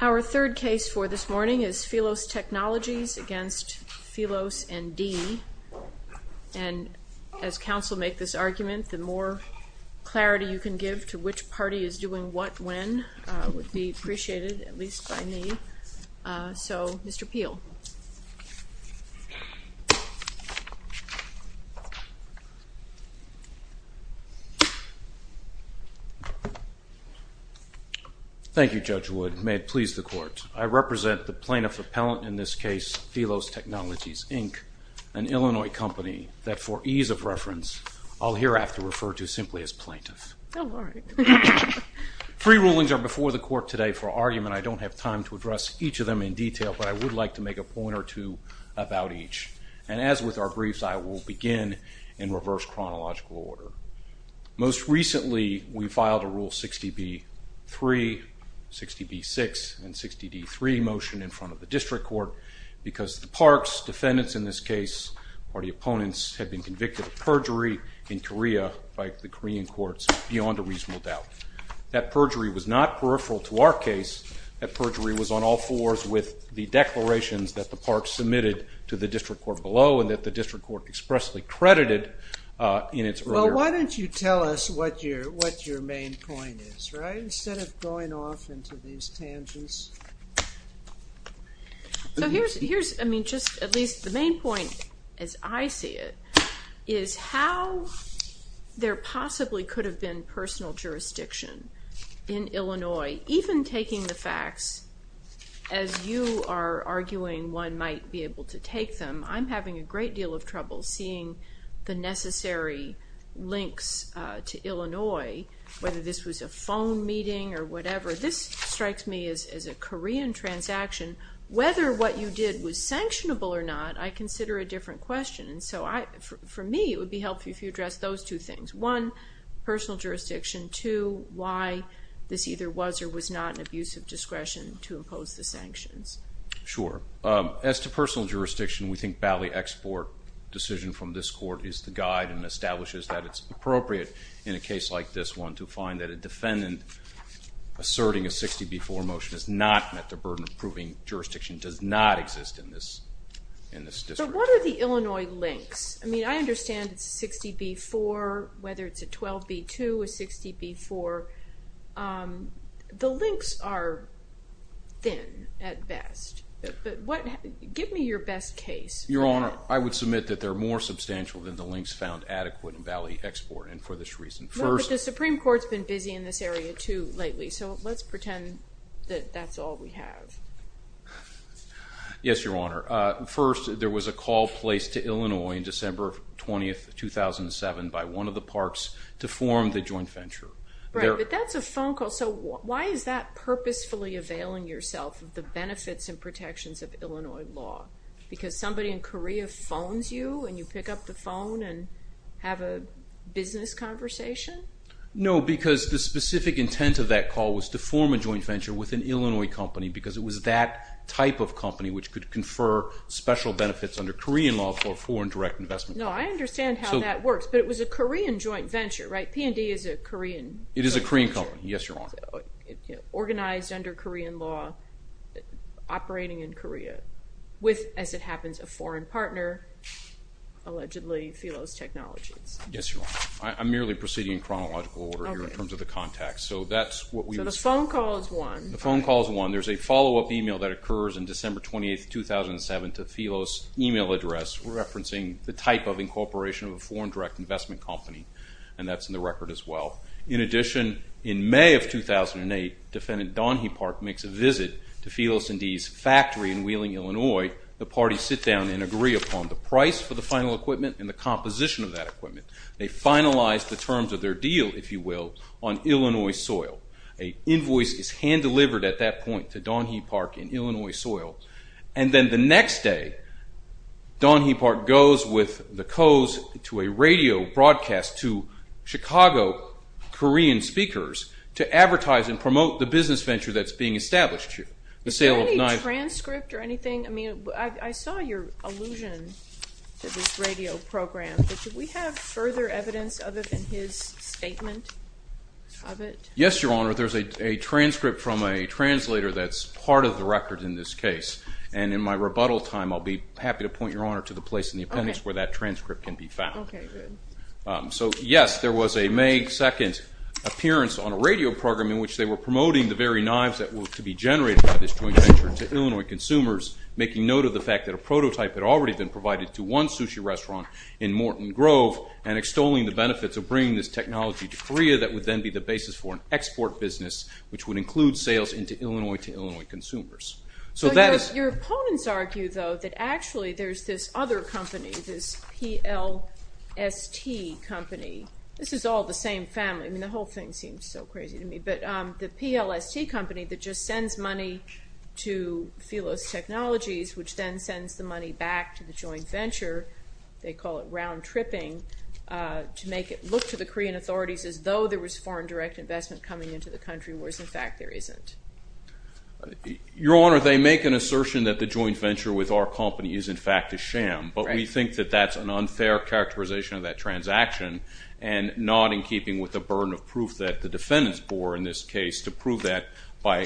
Our third case for this morning is Philos Technologies v. Philos & D. And as counsel make this argument, the more clarity you can give to which party is doing what when would be appreciated, at least by me. So, Mr. Peel. Mr. Peel. Thank you, Judge Wood. May it please the Court. I represent the plaintiff appellant in this case, Philos Technologies, Inc., an Illinois company that for ease of reference I'll hereafter refer to simply as plaintiff. All right. Free rulings are before the Court today for argument. I don't have time to address each of them in detail, but I would like to make a point or two about each. And as with our briefs, I will begin in reverse chronological order. Most recently, we filed a Rule 60b-3, 60b-6, and 60d-3 motion in front of the District Court because the parks, defendants in this case, party opponents, had been convicted of perjury in Korea by the Korean courts beyond a reasonable doubt. That perjury was not peripheral to our case. That perjury was on all fours with the declarations that the parks submitted to the District Court below and that the District Court expressly credited in its earlier. Well, why don't you tell us what your main point is, right, instead of going off into these tangents. So here's, I mean, just at least the main point as I see it is how there possibly could have been personal jurisdiction in Illinois, even taking the facts as you are arguing one might be able to take them. I'm having a great deal of trouble seeing the necessary links to Illinois, whether this was a phone meeting or whatever. This strikes me as a Korean transaction. Whether what you did was sanctionable or not, I consider a different question. And so for me, it would be helpful if you addressed those two things. One, personal jurisdiction. Two, why this either was or was not an abuse of discretion to impose the sanctions. Sure. As to personal jurisdiction, we think Bally Export decision from this court is the guide and establishes that it's appropriate in a case like this one to find that a defendant asserting a 60-B-4 motion has not met the burden of proving jurisdiction does not exist in this district. But what are the Illinois links? I mean, I understand it's a 60-B-4, whether it's a 12-B-2, a 60-B-4. The links are thin at best. Give me your best case. Your Honor, I would submit that they're more substantial than the links found adequate in Bally Export and for this reason. Well, but the Supreme Court's been busy in this area too lately, so let's pretend that that's all we have. Yes, Your Honor. First, there was a call placed to Illinois on December 20, 2007 by one of the parks to form the joint venture. Right, but that's a phone call. So why is that purposefully availing yourself of the benefits and protections of Illinois law? Because somebody in Korea phones you and you pick up the phone and have a business conversation? No, because the specific intent of that call was to form a joint venture with an Illinois company because it was that type of company which could confer special benefits under Korean law for foreign direct investment. No, I understand how that works, but it was a Korean joint venture, right? P&D is a Korean joint venture. It is a Korean company, yes, Your Honor. Organized under Korean law, operating in Korea with, as it happens, a foreign partner, allegedly Phelos Technologies. Yes, Your Honor. I'm merely proceeding in chronological order here in terms of the context. So that's what we would say. So the phone call is one. The phone call is one. There's a follow-up email that occurs on December 28, 2007 to Phelos' email address referencing the type of incorporation of a foreign direct investment company, and that's in the record as well. In addition, in May of 2008, Defendant Don Heapark makes a visit to Phelos & D's factory in Wheeling, Illinois. The parties sit down and agree upon the price for the final equipment and the composition of that equipment. They finalize the terms of their deal, if you will, on Illinois soil. An invoice is hand-delivered at that point to Don Heapark in Illinois soil, and then the next day, Don Heapark goes with the Coes to a radio broadcast to Chicago Korean speakers to advertise and promote the business venture that's being established here. Is there any transcript or anything? I mean, I saw your allusion to this radio program, but do we have further evidence other than his statement of it? Yes, Your Honor, there's a transcript from a translator that's part of the record in this case, and in my rebuttal time, I'll be happy to point Your Honor to the place in the appendix where that transcript can be found. Okay, good. So, yes, there was a May 2 appearance on a radio program in which they were promoting the very knives that were to be generated by this joint venture to Illinois consumers, making note of the fact that a prototype had already been provided to one sushi restaurant in Morton Grove and extolling the benefits of bringing this technology to Korea that would then be the basis for an export business, which would include sales into Illinois to Illinois consumers. So your opponents argue, though, that actually there's this other company, this PLST company. This is all the same family. I mean, the whole thing seems so crazy to me, but the PLST company that just sends money to Phelos Technologies, which then sends the money back to the joint venture, they call it round-tripping, to make it look to the Korean authorities as though there was foreign direct investment coming into the country, whereas, in fact, there isn't. Your Honor, they make an assertion that the joint venture with our company is, in fact, a sham, but we think that that's an unfair characterization of that transaction and not in keeping with the burden of proof that the defendants bore in this case to prove that by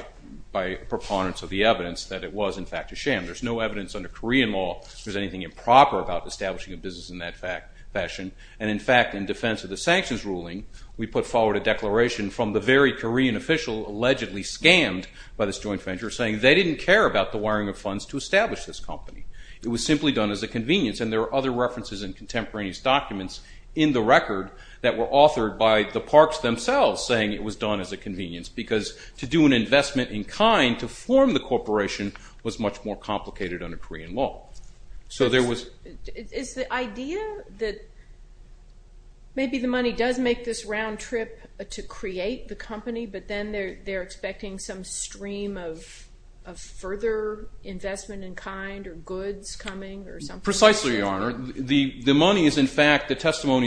preponderance of the evidence that it was, in fact, a sham. There's no evidence under Korean law there's anything improper about establishing a business in that fashion. And, in fact, in defense of the sanctions ruling, we put forward a declaration from the very Korean official allegedly scammed by this joint venture saying they didn't care about the wiring of funds to establish this company. It was simply done as a convenience, and there are other references in contemporaneous documents in the record that were authored by the Parks themselves saying it was done as a convenience because to do an investment in kind to form the corporation was much more complicated under Korean law. Is the idea that maybe the money does make this round trip to create the company, but then they're expecting some stream of further investment in kind or goods coming or something? Precisely, Your Honor. The testimony is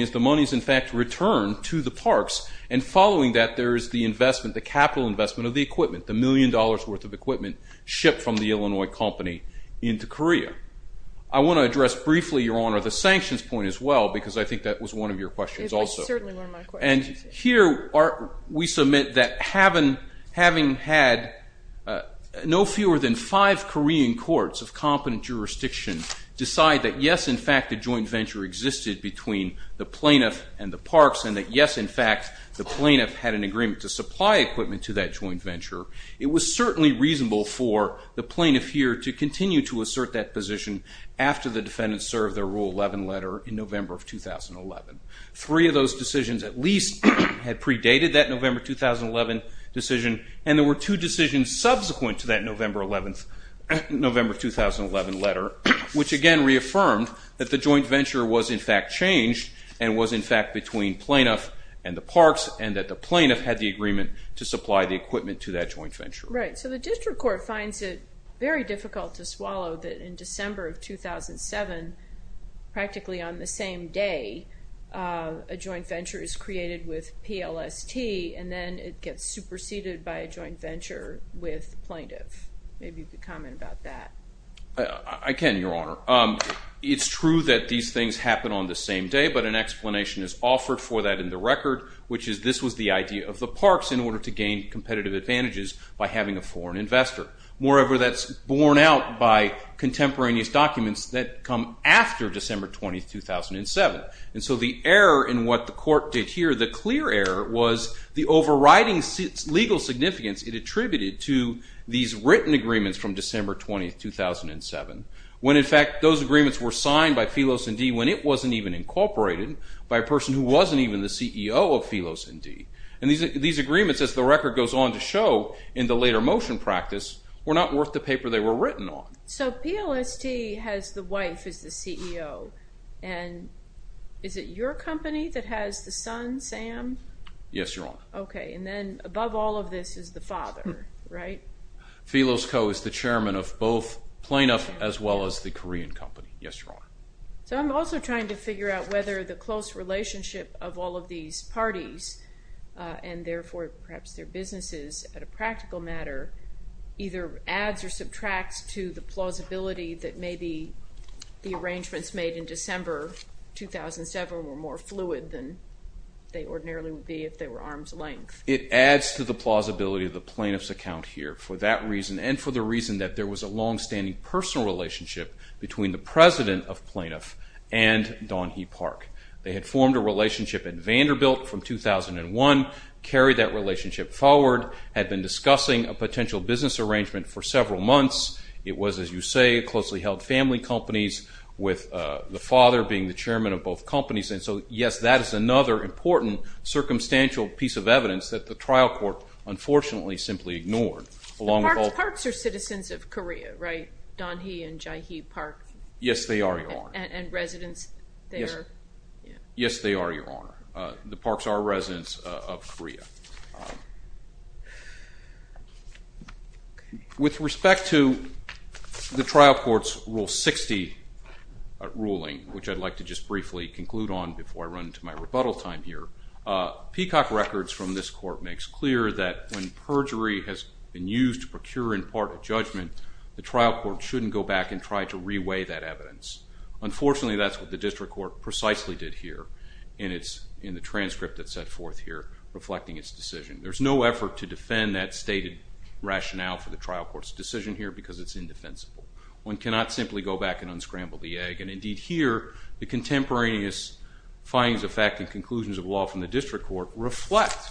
the money is, in fact, returned to the Parks, and following that there is the investment, the capital investment of the equipment, the million dollars worth of equipment shipped from the Illinois company into Korea. I want to address briefly, Your Honor, the sanctions point as well because I think that was one of your questions also. It was certainly one of my questions. And here we submit that having had no fewer than five Korean courts of competent jurisdiction decide that, yes, in fact, the joint venture existed between the plaintiff and the Parks, and that, yes, in fact, the plaintiff had an agreement to supply equipment to that joint venture, it was certainly reasonable for the plaintiff here to continue to assert that position after the defendants served their Rule 11 letter in November of 2011. Three of those decisions at least had predated that November 2011 decision, and there were two decisions subsequent to that November 2011 letter, which, again, reaffirmed that the joint venture was, in fact, changed and was, in fact, between plaintiff and the Parks and that the plaintiff had the agreement to supply the equipment to that joint venture. Right. So the district court finds it very difficult to swallow that in December of 2007, practically on the same day, a joint venture is created with PLST and then it gets superseded by a joint venture with plaintiff. Maybe you could comment about that. I can, Your Honor. It's true that these things happen on the same day, but an explanation is offered for that in the record, which is this was the idea of the Parks in order to gain competitive advantages by having a foreign investor. Moreover, that's borne out by contemporaneous documents that come after December 20, 2007. And so the error in what the court did here, the clear error, was the overriding legal significance it attributed to these written agreements from December 20, 2007, when, in fact, those agreements were signed by Phylos & D when it wasn't even incorporated by a person who wasn't even the CEO of Phylos & D. And these agreements, as the record goes on to show in the later motion practice, were not worth the paper they were written on. So PLST has the wife as the CEO, and is it your company that has the son, Sam? Yes, Your Honor. Okay, and then above all of this is the father, right? Phylos Co. is the chairman of both Plaintiff as well as the Korean company. Yes, Your Honor. So I'm also trying to figure out whether the close relationship of all of these parties, and therefore perhaps their businesses at a practical matter, either adds or subtracts to the plausibility that maybe the arrangements made in December 2007 were more fluid than they ordinarily would be if they were arm's length. It adds to the plausibility of the plaintiff's account here for that reason and for the reason that there was a longstanding personal relationship between the president of Plaintiff and Don Heapark. They had formed a relationship in Vanderbilt from 2001, carried that relationship forward, had been discussing a potential business arrangement for several months. It was, as you say, closely held family companies with the father being the chairman of both companies. And so, yes, that is another important circumstantial piece of evidence that the trial court unfortunately simply ignored. The parks are citizens of Korea, right, Don Heapark and Jaehee Park? Yes, they are, Your Honor. And residents there? Yes, they are, Your Honor. The parks are residents of Korea. With respect to the trial court's Rule 60 ruling, which I'd like to just briefly conclude on before I run into my rebuttal time here, Peacock Records from this court makes clear that when perjury has been used to procure in part a judgment, the trial court shouldn't go back and try to re-weigh that evidence. Unfortunately, that's what the district court precisely did here and it's in the transcript that's set forth here reflecting its decision. There's no effort to defend that stated rationale for the trial court's decision here because it's indefensible. One cannot simply go back and unscramble the egg, and indeed here the contemporaneous findings of fact and conclusions of law from the district court reflect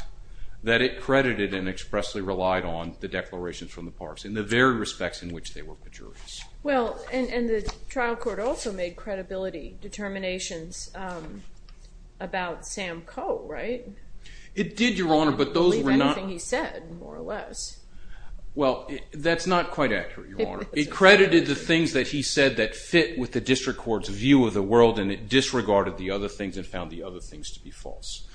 that it credited and expressly relied on the declarations from the parks in the very respects in which they were perjuries. Well, and the trial court also made credibility determinations about Sam Coe, right? It did, Your Honor, but those were not... Believe anything he said, more or less. Well, that's not quite accurate, Your Honor. It credited the things that he said that fit with the district court's view of the world and it disregarded the other things and found the other things to be false.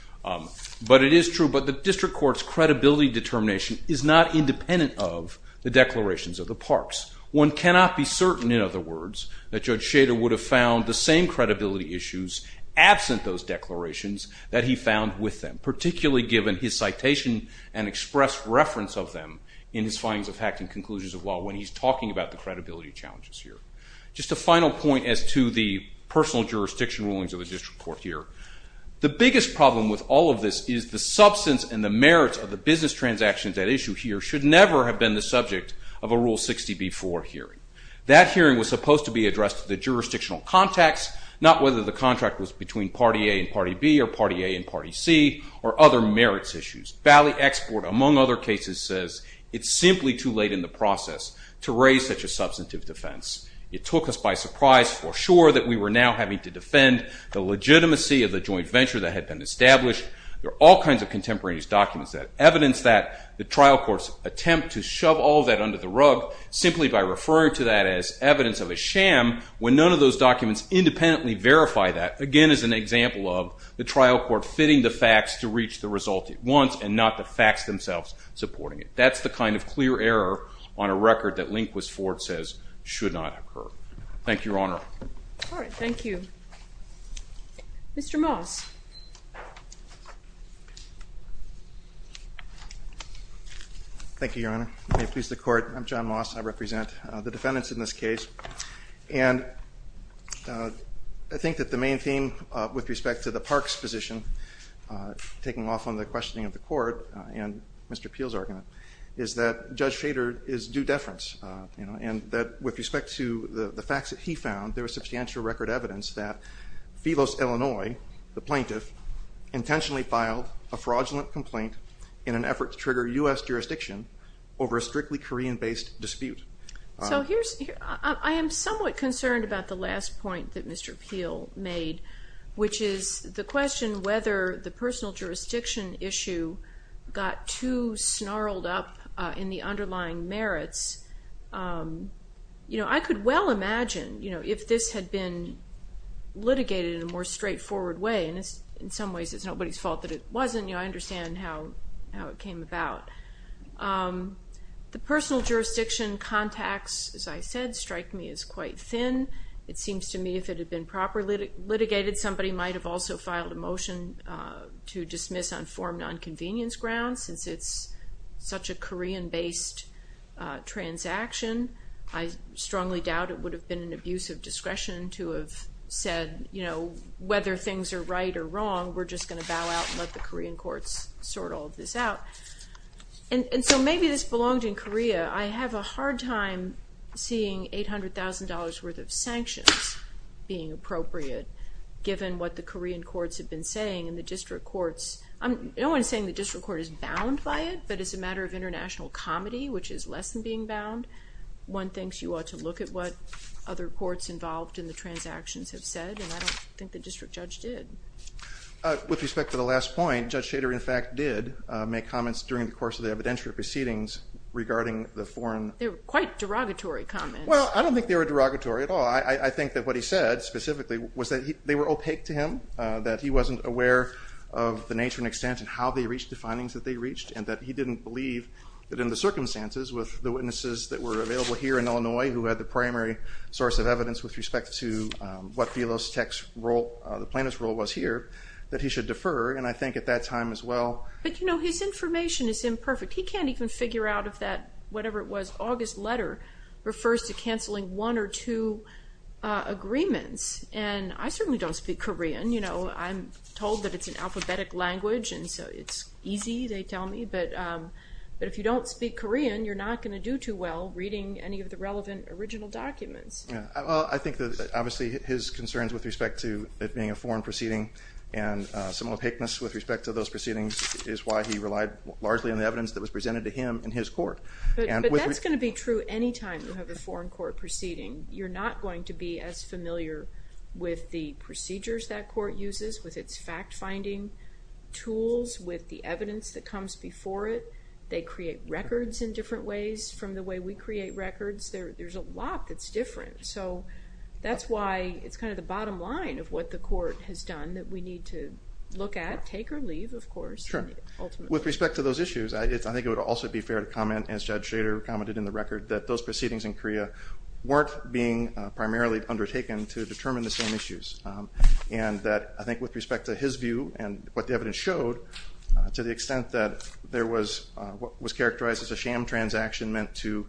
But it is true, but the district court's credibility determination is not independent of the declarations of the parks. One cannot be certain, in other words, that Judge Schader would have found the same credibility issues absent those declarations that he found with them, particularly given his citation and expressed reference of them in his findings of fact and conclusions of law when he's talking about the credibility challenges here. Just a final point as to the personal jurisdiction rulings of the district court here. The biggest problem with all of this is the substance and the merits of the business transactions at issue here should never have been the subject of a Rule 60b-4 hearing. That hearing was supposed to be addressed to the jurisdictional context, not whether the contract was between Party A and Party B or Party A and Party C or other merits issues. Valley Export, among other cases, says it's simply too late in the process to raise such a substantive defense. It took us by surprise, for sure, that we were now having to defend the legitimacy of the joint venture that had been established. There are all kinds of contemporaneous documents that evidence that. The trial court's attempt to shove all that under the rug simply by referring to that as evidence of a sham when none of those documents independently verify that, again is an example of the trial court fitting the facts to reach the result it wants and not the facts themselves supporting it. That's the kind of clear error on a record that Lindquist-Ford says should not occur. Thank you, Your Honor. All right, thank you. Mr. Moss. Thank you, Your Honor. May it please the Court, I'm John Moss. I represent the defendants in this case. And I think that the main theme with respect to the Parks position taking off on the questioning of the Court and Mr. Peel's argument is that Judge Schrader is due deference and that with respect to the facts that he found, there is substantial record evidence that Phelos, Illinois, the plaintiff, intentionally filed a fraudulent complaint in an effort to trigger U.S. jurisdiction over a strictly Korean-based dispute. I am somewhat concerned about the last point that Mr. Peel made, which is the question whether the personal jurisdiction issue got too snarled up in the underlying merits. I could well imagine if this had been litigated in a more straightforward way, and in some ways it's nobody's fault that it wasn't. I understand how it came about. The personal jurisdiction contacts, as I said, strike me as quite thin. It seems to me if it had been properly litigated, somebody might have also filed a motion to dismiss on form nonconvenience grounds since it's such a Korean-based transaction. I strongly doubt it would have been an abuse of discretion to have said, you know, whether things are right or wrong, we're just going to bow out and let the Korean courts sort all of this out. And so maybe this belonged in Korea. I have a hard time seeing $800,000 worth of sanctions being appropriate given what the Korean courts have been saying and the district courts. No one is saying the district court is bound by it, but it's a matter of international comity, which is less than being bound. One thinks you ought to look at what other courts involved in the transactions have said, and I don't think the district judge did. With respect to the last point, Judge Shader, in fact, did make comments during the course of the evidentiary proceedings regarding the foreign. They were quite derogatory comments. Well, I don't think they were derogatory at all. I think that what he said specifically was that they were opaque to him, that he wasn't aware of the nature and extent of how they reached the findings that they reached, and that he didn't believe that in the circumstances with the witnesses that were available here in Illinois who had the primary source of evidence with respect to what Velostek's role, the plaintiff's role was here, that he should defer, and I think at that time as well. But, you know, his information is imperfect. He can't even figure out if that whatever it was, August letter, refers to canceling one or two agreements. And I certainly don't speak Korean. You know, I'm told that it's an alphabetic language, and so it's easy, they tell me. But if you don't speak Korean, you're not going to do too well reading any of the relevant original documents. I think that obviously his concerns with respect to it being a foreign proceeding and some opaqueness with respect to those proceedings is why he relied largely on the evidence that was presented to him in his court. But that's going to be true any time you have a foreign court proceeding. You're not going to be as familiar with the procedures that court uses, with its fact-finding tools, with the evidence that comes before it. They create records in different ways from the way we create records. There's a lot that's different. So that's why it's kind of the bottom line of what the court has done that we need to look at, take or leave, of course. Sure. Ultimately. With respect to those issues, I think it would also be fair to comment, as Judge Schrader commented in the record, that those proceedings in Korea weren't being primarily undertaken to determine the same issues, and that I think with respect to his view and what the evidence showed, to the extent that there was what was characterized as a sham transaction meant to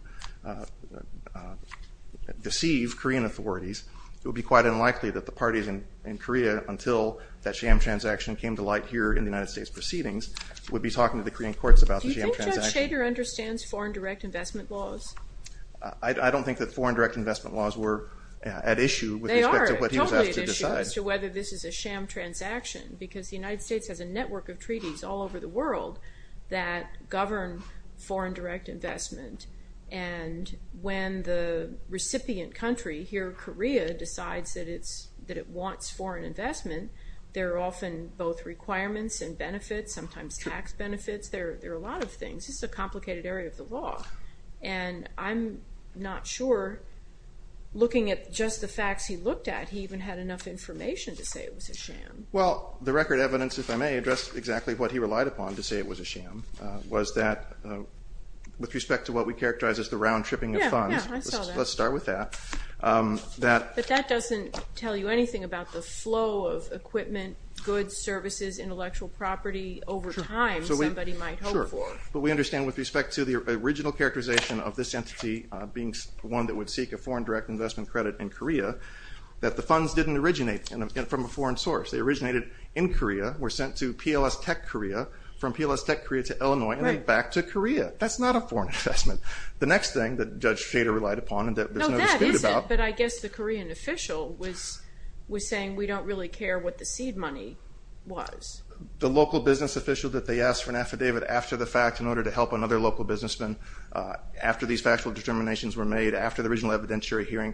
deceive Korean authorities, it would be quite unlikely that the parties in Korea, until that sham transaction came to light here in the United States proceedings, would be talking to the Korean courts about the sham transaction. Judge Schrader understands foreign direct investment laws. I don't think that foreign direct investment laws were at issue with respect to what he was asked to decide. They are totally at issue as to whether this is a sham transaction, because the United States has a network of treaties all over the world that govern foreign direct investment, and when the recipient country, here Korea, decides that it wants foreign investment, there are often both requirements and benefits, sometimes tax benefits. There are a lot of things. This is a complicated area of the law, and I'm not sure looking at just the facts he looked at, he even had enough information to say it was a sham. Well, the record evidence, if I may, addressed exactly what he relied upon to say it was a sham, was that with respect to what we characterize as the round-tripping of funds, let's start with that. But that doesn't tell you anything about the flow of equipment, goods, services, intellectual property over time somebody might hope for. Sure. But we understand with respect to the original characterization of this entity being one that would seek a foreign direct investment credit in Korea, that the funds didn't originate from a foreign source. They originated in Korea, were sent to PLS Tech Korea, from PLS Tech Korea to Illinois, and then back to Korea. That's not a foreign investment. The next thing that Judge Shader relied upon and that there's no dispute about. No, that isn't, but I guess the Korean official was saying we don't really care what the seed money was. The local business official that they asked for an affidavit after the fact in order to help another local businessman, after these factual determinations were made, after the original evidentiary hearing,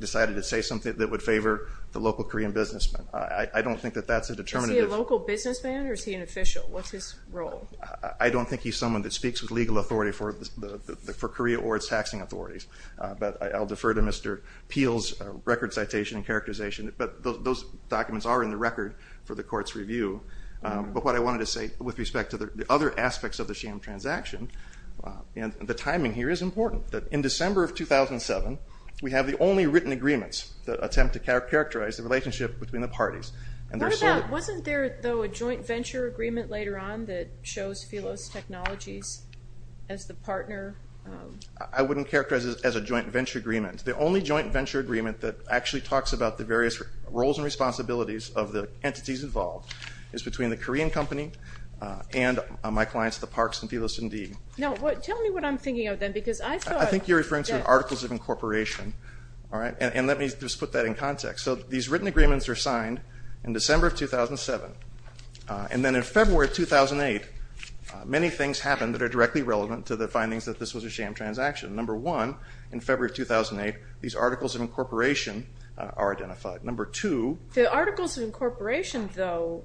decided to say something that would favor the local Korean businessman. I don't think that that's a determinative. Is he a local businessman or is he an official? What's his role? I don't think he's someone that speaks with legal authority for Korea or its taxing authorities. But I'll defer to Mr. Peel's record citation and characterization. But those documents are in the record for the court's review. But what I wanted to say with respect to the other aspects of the sham transaction, and the timing here is important, that in December of 2007 we have the only written agreements that attempt to characterize the relationship between the parties. Wasn't there, though, a joint venture agreement later on that shows Phelos Technologies as the partner? I wouldn't characterize it as a joint venture agreement. The only joint venture agreement that actually talks about the various roles and responsibilities of the entities involved is between the Korean company and my clients, the Parks and Phelos and Dean. No, tell me what I'm thinking of then, because I thought that... I think you're referring to articles of incorporation. And let me just put that in context. So these written agreements are signed in December of 2007. And then in February of 2008, many things happened that are directly relevant to the findings that this was a sham transaction. Number one, in February of 2008, these articles of incorporation are identified. Number two... The articles of incorporation, though,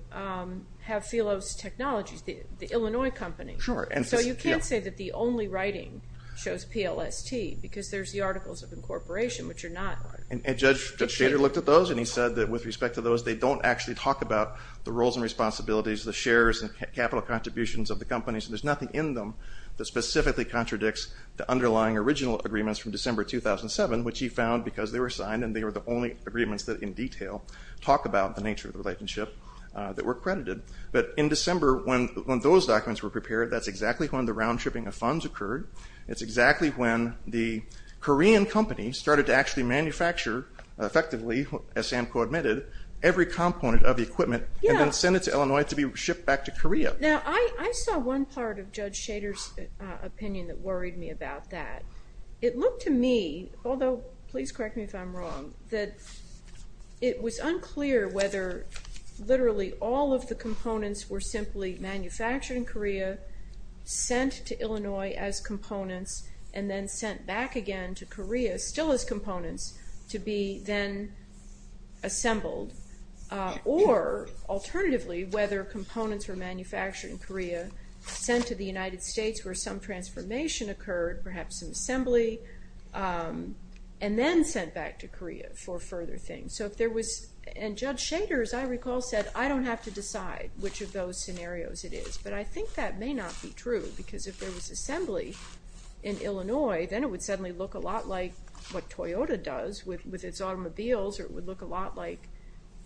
have Phelos Technologies, the Illinois company. So you can't say that the only writing shows PLST, because there's the articles of incorporation, which are not... And Judge Shader looked at those, and he said that with respect to those, they don't actually talk about the roles and responsibilities, the shares and capital contributions of the companies. There's nothing in them that specifically contradicts the underlying original agreements from December 2007, which he found, because they were signed and they were the only agreements that, in detail, talk about the nature of the relationship that were credited. But in December, when those documents were prepared, that's exactly when the round-shipping of funds occurred. It's exactly when the Korean company started to actually manufacture, effectively, as Sam co-admitted, every component of the equipment and then send it to Illinois to be shipped back to Korea. Now, I saw one part of Judge Shader's opinion that worried me about that. It looked to me, although please correct me if I'm wrong, that it was unclear whether literally all of the components were simply manufactured in Korea, sent to Illinois as components, and then sent back again to Korea still as components, to be then assembled, or, alternatively, whether components were manufactured in Korea, sent to the United States where some transformation occurred, perhaps some assembly, and then sent back to Korea for further things. And Judge Shader, as I recall, said, I don't have to decide which of those scenarios it is. But I think that may not be true, because if there was assembly in Illinois, then it would suddenly look a lot like what Toyota does with its automobiles, or it would look a lot like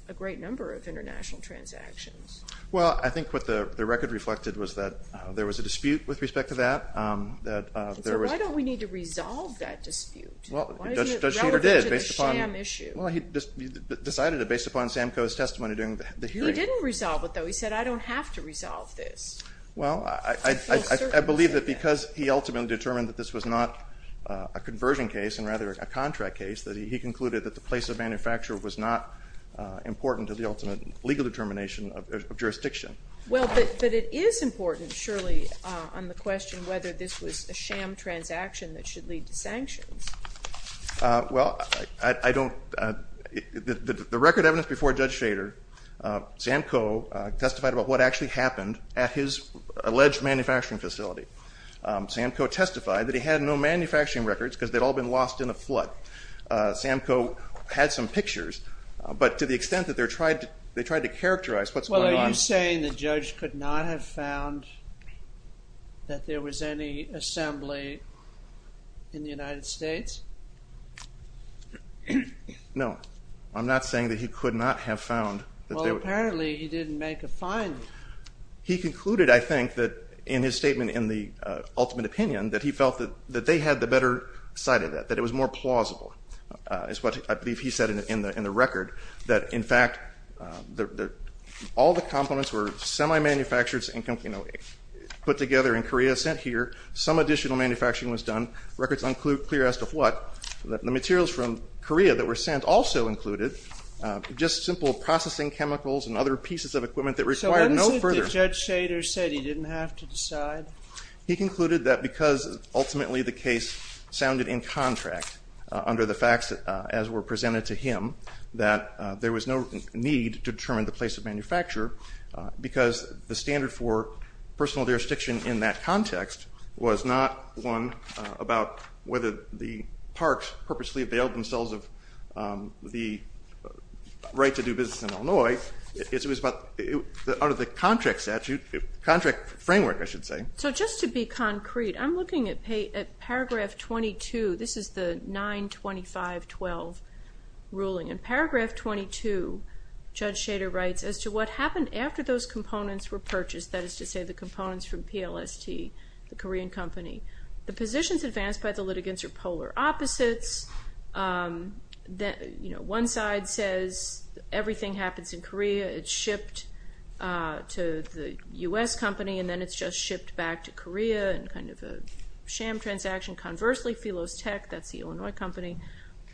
a great number of international transactions. Well, I think what the record reflected was that there was a dispute with respect to that. He said, why don't we need to resolve that dispute? Why isn't it relevant to the sham issue? Well, he decided it based upon Sam Coe's testimony during the hearing. He didn't resolve it, though. He said, I don't have to resolve this. Well, I believe that because he ultimately determined that this was not a conversion case and rather a contract case, that he concluded that the place of manufacture was not important to the ultimate legal determination of jurisdiction. Well, but it is important, surely, on the question whether this was a sham transaction that should lead to sanctions. Well, I don't – the record evidence before Judge Shader, Sam Coe testified about what actually happened at his alleged manufacturing facility. Sam Coe testified that he had no manufacturing records because they had all been lost in a flood. Sam Coe had some pictures, but to the extent that they tried to characterize what's going on – Well, are you saying the judge could not have found that there was any assembly in the United States? No. I'm not saying that he could not have found that there were – Well, apparently he didn't make a finding. He concluded, I think, that in his statement in the ultimate opinion, that he felt that they had the better side of that, that it was more plausible, is what I believe he said in the record, that in fact all the complements were semi-manufactured, put together in Korea, sent here. Some additional manufacturing was done. Records unclear as to what. The materials from Korea that were sent also included just simple processing chemicals and other pieces of equipment that required no further – So what is it that Judge Shader said he didn't have to decide? He concluded that because ultimately the case sounded in contract under the facts as were presented to him, that there was no need to determine the place of manufacture because the standard for personal jurisdiction in that context was not one about whether the parks purposely availed themselves of the right to do business in Illinois. It was about the contract framework, I should say. So just to be concrete, I'm looking at paragraph 22. This is the 925.12 ruling. In paragraph 22, Judge Shader writes, as to what happened after those components were purchased, that is to say the components from PLST, the Korean company. The positions advanced by the litigants are polar opposites. One side says everything happens in Korea. It's shipped to the U.S. company and then it's just shipped back to Korea in kind of a sham transaction. Conversely, Phelos Tech, that's the Illinois company,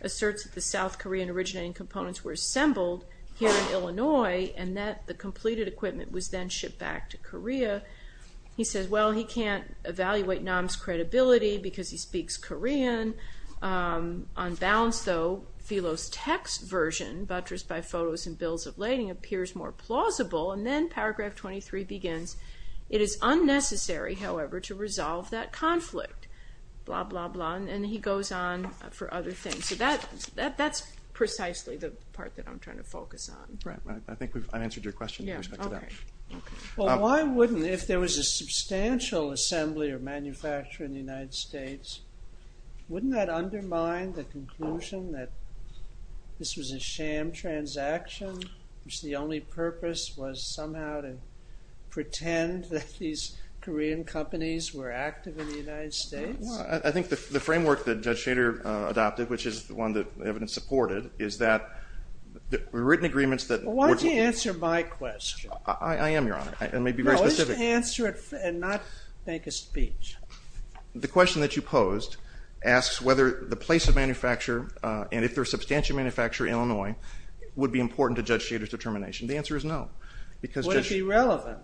asserts that the South Korean originating components were assembled here in Illinois and that the completed equipment was then shipped back to Korea. He says, well, he can't evaluate Nam's credibility because he speaks Korean. On balance, though, Phelos Tech's version, buttressed by photos and bills of lading, appears more plausible. And then paragraph 23 begins, it is unnecessary, however, to resolve that conflict. Blah, blah, blah. And he goes on for other things. So that's precisely the part that I'm trying to focus on. Right, right. I think I answered your question with respect to that. Well, why wouldn't, if there was a substantial assembly of manufacturing in the United States, wouldn't that undermine the conclusion that this was a sham transaction, which the only purpose was somehow to pretend that these Korean companies were active in the United States? I think the framework that Judge Shader adopted, which is the one that evidence supported, is that written agreements that... Why don't you answer my question? I am, Your Honor. I may be very specific. Why don't you answer it and not make a speech? The question that you posed asks whether the place of manufacture, and if there's substantial manufacture in Illinois, would be important to Judge Shader's determination. The answer is no. Would it be relevant?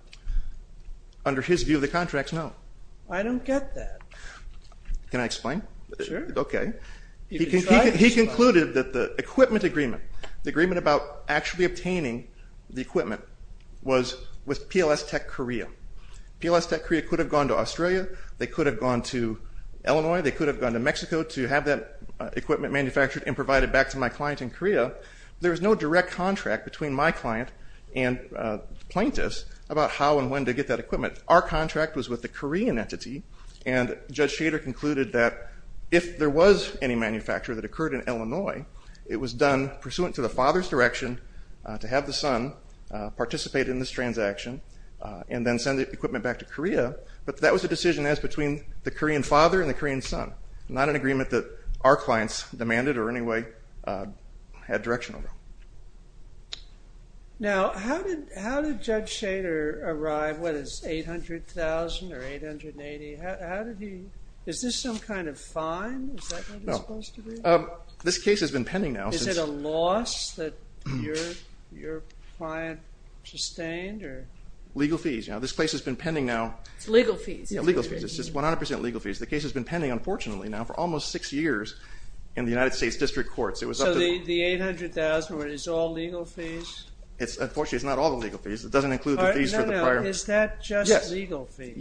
Under his view of the contracts, no. I don't get that. Can I explain? Sure. He concluded that the equipment agreement, the agreement about actually obtaining the equipment, was with PLS Tech Korea. PLS Tech Korea could have gone to Australia, they could have gone to Illinois, they could have gone to Mexico to have that equipment manufactured and provided back to my client in Korea. There was no direct contract between my client and plaintiffs about how and when to get that equipment. Our contract was with the Korean entity, and Judge Shader concluded that if there was any manufacture that occurred in Illinois, it was done pursuant to the father's direction to have the son participate in this transaction and then send the equipment back to Korea. But that was a decision as between the Korean father and the Korean son. Not an agreement that our clients demanded or in any way had direction over. Now, how did Judge Shader arrive? What is 800,000 or 880? Is this some kind of fine? Is that what it's supposed to be? This case has been pending now. Is it a loss that your client sustained? Legal fees. This case has been pending now. It's legal fees. It's 100% legal fees. The case has been pending, unfortunately, for almost six years in the United States District Courts. So the 800,000 is all legal fees? Unfortunately, it's not all legal fees. It doesn't include the fees for the prior... Is that just legal fees?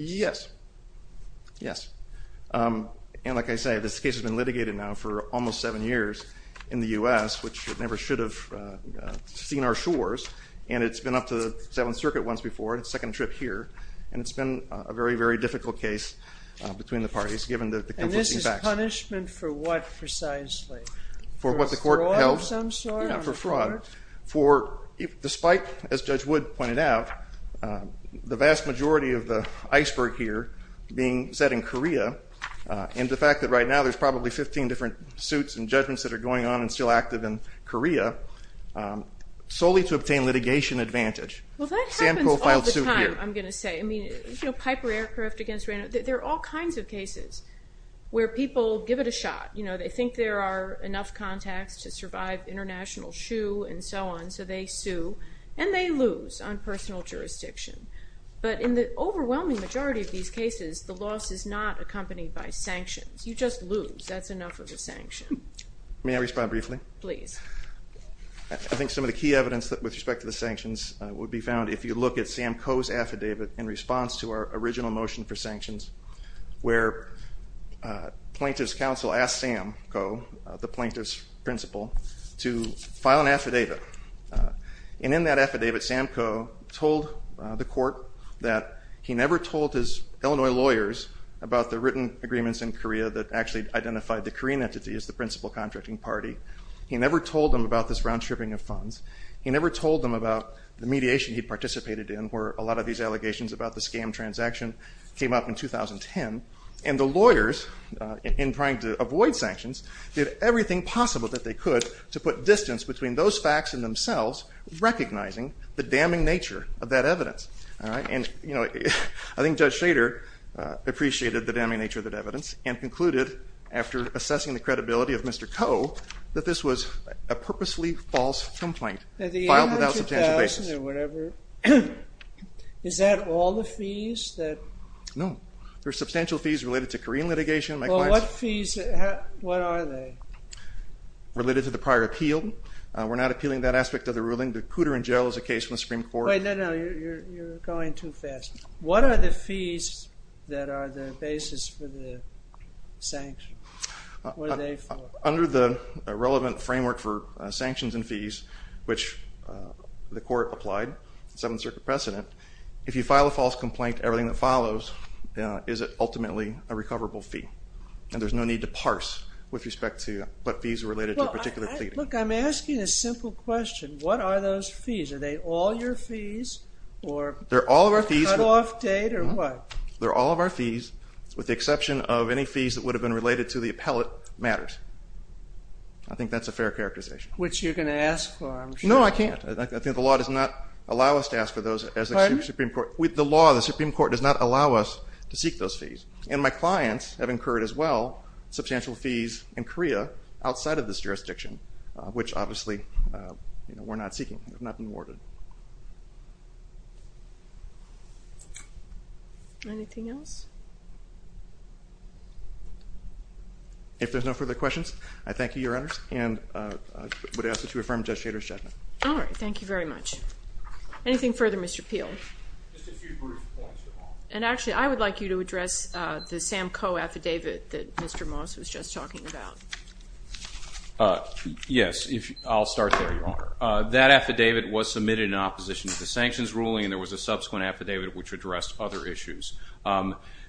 Yes. Like I say, this case has been litigated now for almost seven years in the U.S., which never should have seen our shores. And it's been up to the Seventh Circuit once before. It's the second trip here. And it's been a very, very difficult case between the parties given the conflicting facts. And this is punishment for what precisely? For what the court held? For fraud. Despite, as Judge Wood pointed out, the vast majority of the iceberg here being set in Korea and the fact that right now there's probably 15 different suits and judgments that are going on and still active in Korea, solely to obtain litigation advantage. Well, that happens all the time, I'm going to say. I mean, you know, Piper Aircraft against Randolph. There are all kinds of cases where people give it a shot. You know, they think there are enough contacts to survive international shoe and so on, so they sue, and they lose on personal jurisdiction. But in the overwhelming majority of these cases, the loss is not accompanied by sanctions. You just lose. That's enough of a sanction. May I respond briefly? Please. I think some of the key evidence with respect to the sanctions would be found if you look at Sam Coe's affidavit in response to our original motion for sanctions, where plaintiff's counsel asked Sam Coe, the plaintiff's principal, to file an affidavit. And in that affidavit, Sam Coe told the court that he never told his Illinois lawyers about the written agreements in Korea that actually identified the Korean entity as the principal contracting party. He never told them about this round-tripping of funds. He never told them about the mediation he participated in, where a lot of these allegations about the scam transaction came up in 2010. And the lawyers, in trying to avoid sanctions, did everything possible that they could to put distance between those facts and themselves, recognizing the damning nature of that evidence. And, you know, I think Judge Schrader appreciated the damning nature of that evidence and concluded, after assessing the credibility of Mr. Coe, that this was a purposefully false complaint filed without substantial basis. Is that all the fees? No. There are substantial fees related to Korean litigation. What are they? Related to the prior appeal. We're not appealing that aspect of the ruling. The Cooter and Jowell is a case from the Supreme Court. Wait, no, no, you're going too fast. What are the fees that are the basis for the sanctions? What are they for? Under the relevant framework for sanctions and fees, which the court applied, the Seventh Circuit precedent, if you file a false complaint, everything that follows is ultimately a recoverable fee. And there's no need to parse with respect to what fees are related to a particular plea. Look, I'm asking a simple question. What are those fees? Are they all your fees? They're all of our fees. Cut-off date or what? They're all of our fees, with the exception of any fees that would have been related to the appellate matters. I think that's a fair characterization. Which you're going to ask for, I'm sure. No, I can't. I think the law does not allow us to ask for those. Pardon? The law, the Supreme Court, does not allow us to seek those fees. And my clients have incurred as well substantial fees in Korea outside of this jurisdiction, which obviously we're not seeking. They've not been awarded. Anything else? If there's no further questions, I thank you, Your Honors, and would ask that you affirm Judge Shader's judgment. All right, thank you very much. Anything further, Mr. Peel? Just a few brief points, Your Honor. And actually, I would like you to address the Sam Coe affidavit that Mr. Moss was just talking about. Yes. I'll start there, Your Honor. That affidavit was submitted in opposition to the sanctions ruling, and there was a subsequent affidavit which addressed other issues.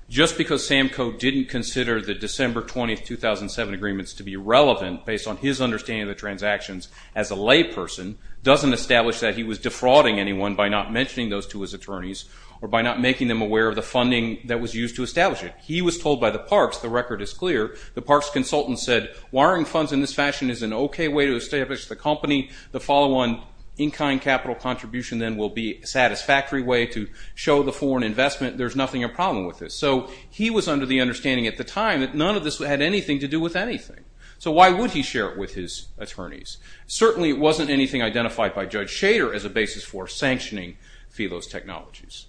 Just because Sam Coe didn't consider the December 20, 2007 agreements to be relevant, based on his understanding of the transactions as a layperson, doesn't establish that he was defrauding anyone by not mentioning those to his attorneys, or by not making them aware of the funding that was used to establish it. He was told by the Parks, the record is clear, the Parks consultant said, wiring funds in this fashion is an okay way to establish the company. The follow-on in-kind capital contribution then will be a satisfactory way to show the foreign investment. There's nothing a problem with this. So, he was under the understanding at the time that none of this had anything to do with anything. So why would he share it with his attorneys? Certainly, it wasn't anything identified by Judge Shader as a basis for sanctioning Phelos Technologies.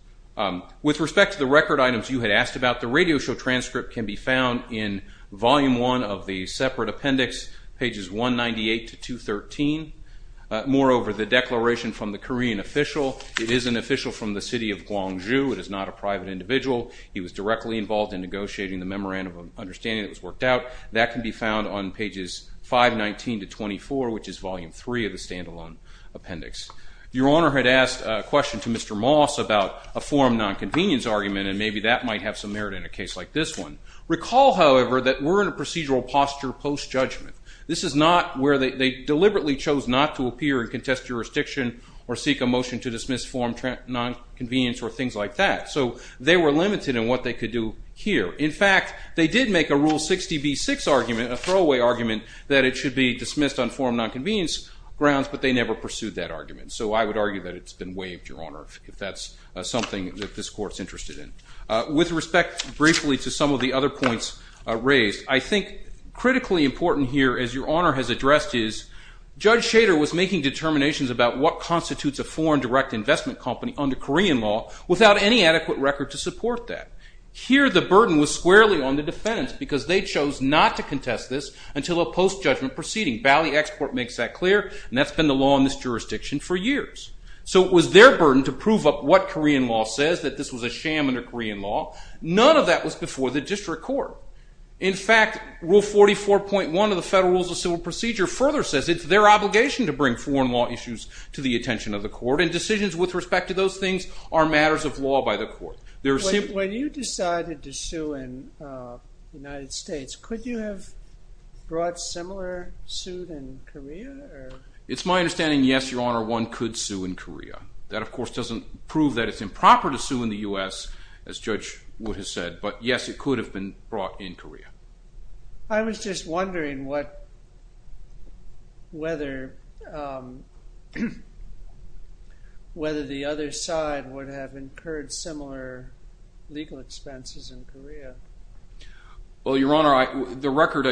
With respect to the record items you had asked about, the radio show volume one of the separate appendix pages 198 to 213. Moreover, the declaration from the Korean official, it is an official from the city of Gwangju. It is not a private individual. He was directly involved in negotiating the memorandum of understanding that was worked out. That can be found on pages 519 to 24, which is volume three of the stand-alone appendix. Your Honor had asked a question to Mr. Moss about a forum non-convenience argument and maybe that might have some merit in a case like this one. Recall, however, that we're in a procedural posture post-judgment. This is not where they deliberately chose not to appear and contest jurisdiction or seek a motion to dismiss forum non-convenience or things like that. So, they were limited in what they could do here. In fact, they did make a Rule 60b-6 argument, a throwaway argument, that it should be dismissed on forum non-convenience grounds but they never pursued that argument. So, I would argue that it's been waived, Your Honor, if that's something that this Court's interested in. With respect, briefly, to some of the other points raised, I think critically important here, as Your Honor has addressed, is Judge Schader was making determinations about what constitutes a foreign direct investment company under Korean law without any adequate record to support that. Here, the burden was squarely on the defendants because they chose not to contest this until a post-judgment proceeding. Bally Export makes that clear and that's been the law in this jurisdiction for years. So, it was their burden to prove up what Korean law. None of that was before the District Court. In fact, Rule 44.1 of the Federal Rules of Civil Procedure further says it's their obligation to bring foreign law issues to the attention of the Court and decisions with respect to those things are matters of law by the Court. When you decided to sue in the United States, could you have brought similar suit in Korea? It's my understanding yes, Your Honor, one could sue in Korea. That, of course, doesn't prove that it's as Judge Wood has said, but yes, it could have been brought in Korea. I was just wondering what whether um whether the other side would have incurred similar legal expenses in Korea. Well, Your Honor, the record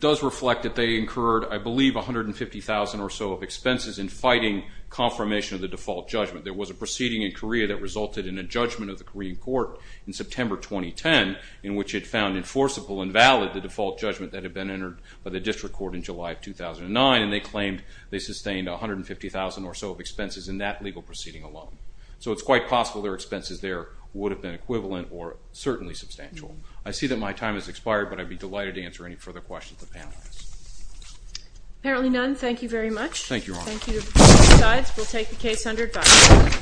does reflect that they incurred, I believe, $150,000 or so of expenses in fighting confirmation of the default judgment. There was a proceeding in Korea that resulted in a judgment of the Korean Court in September 2010 in which it found enforceable and valid the default judgment that had been entered by the District Court in July of 2009 and they claimed they sustained $150,000 or so of expenses in that legal proceeding alone. So it's quite possible their expenses there would have been equivalent or certainly substantial. I see that my time has expired, but I'd be delighted to answer any further questions the panel has. Apparently none. Thank you very much. Thank you, Your Honor. Thank you to both sides. We'll take the case under discussion.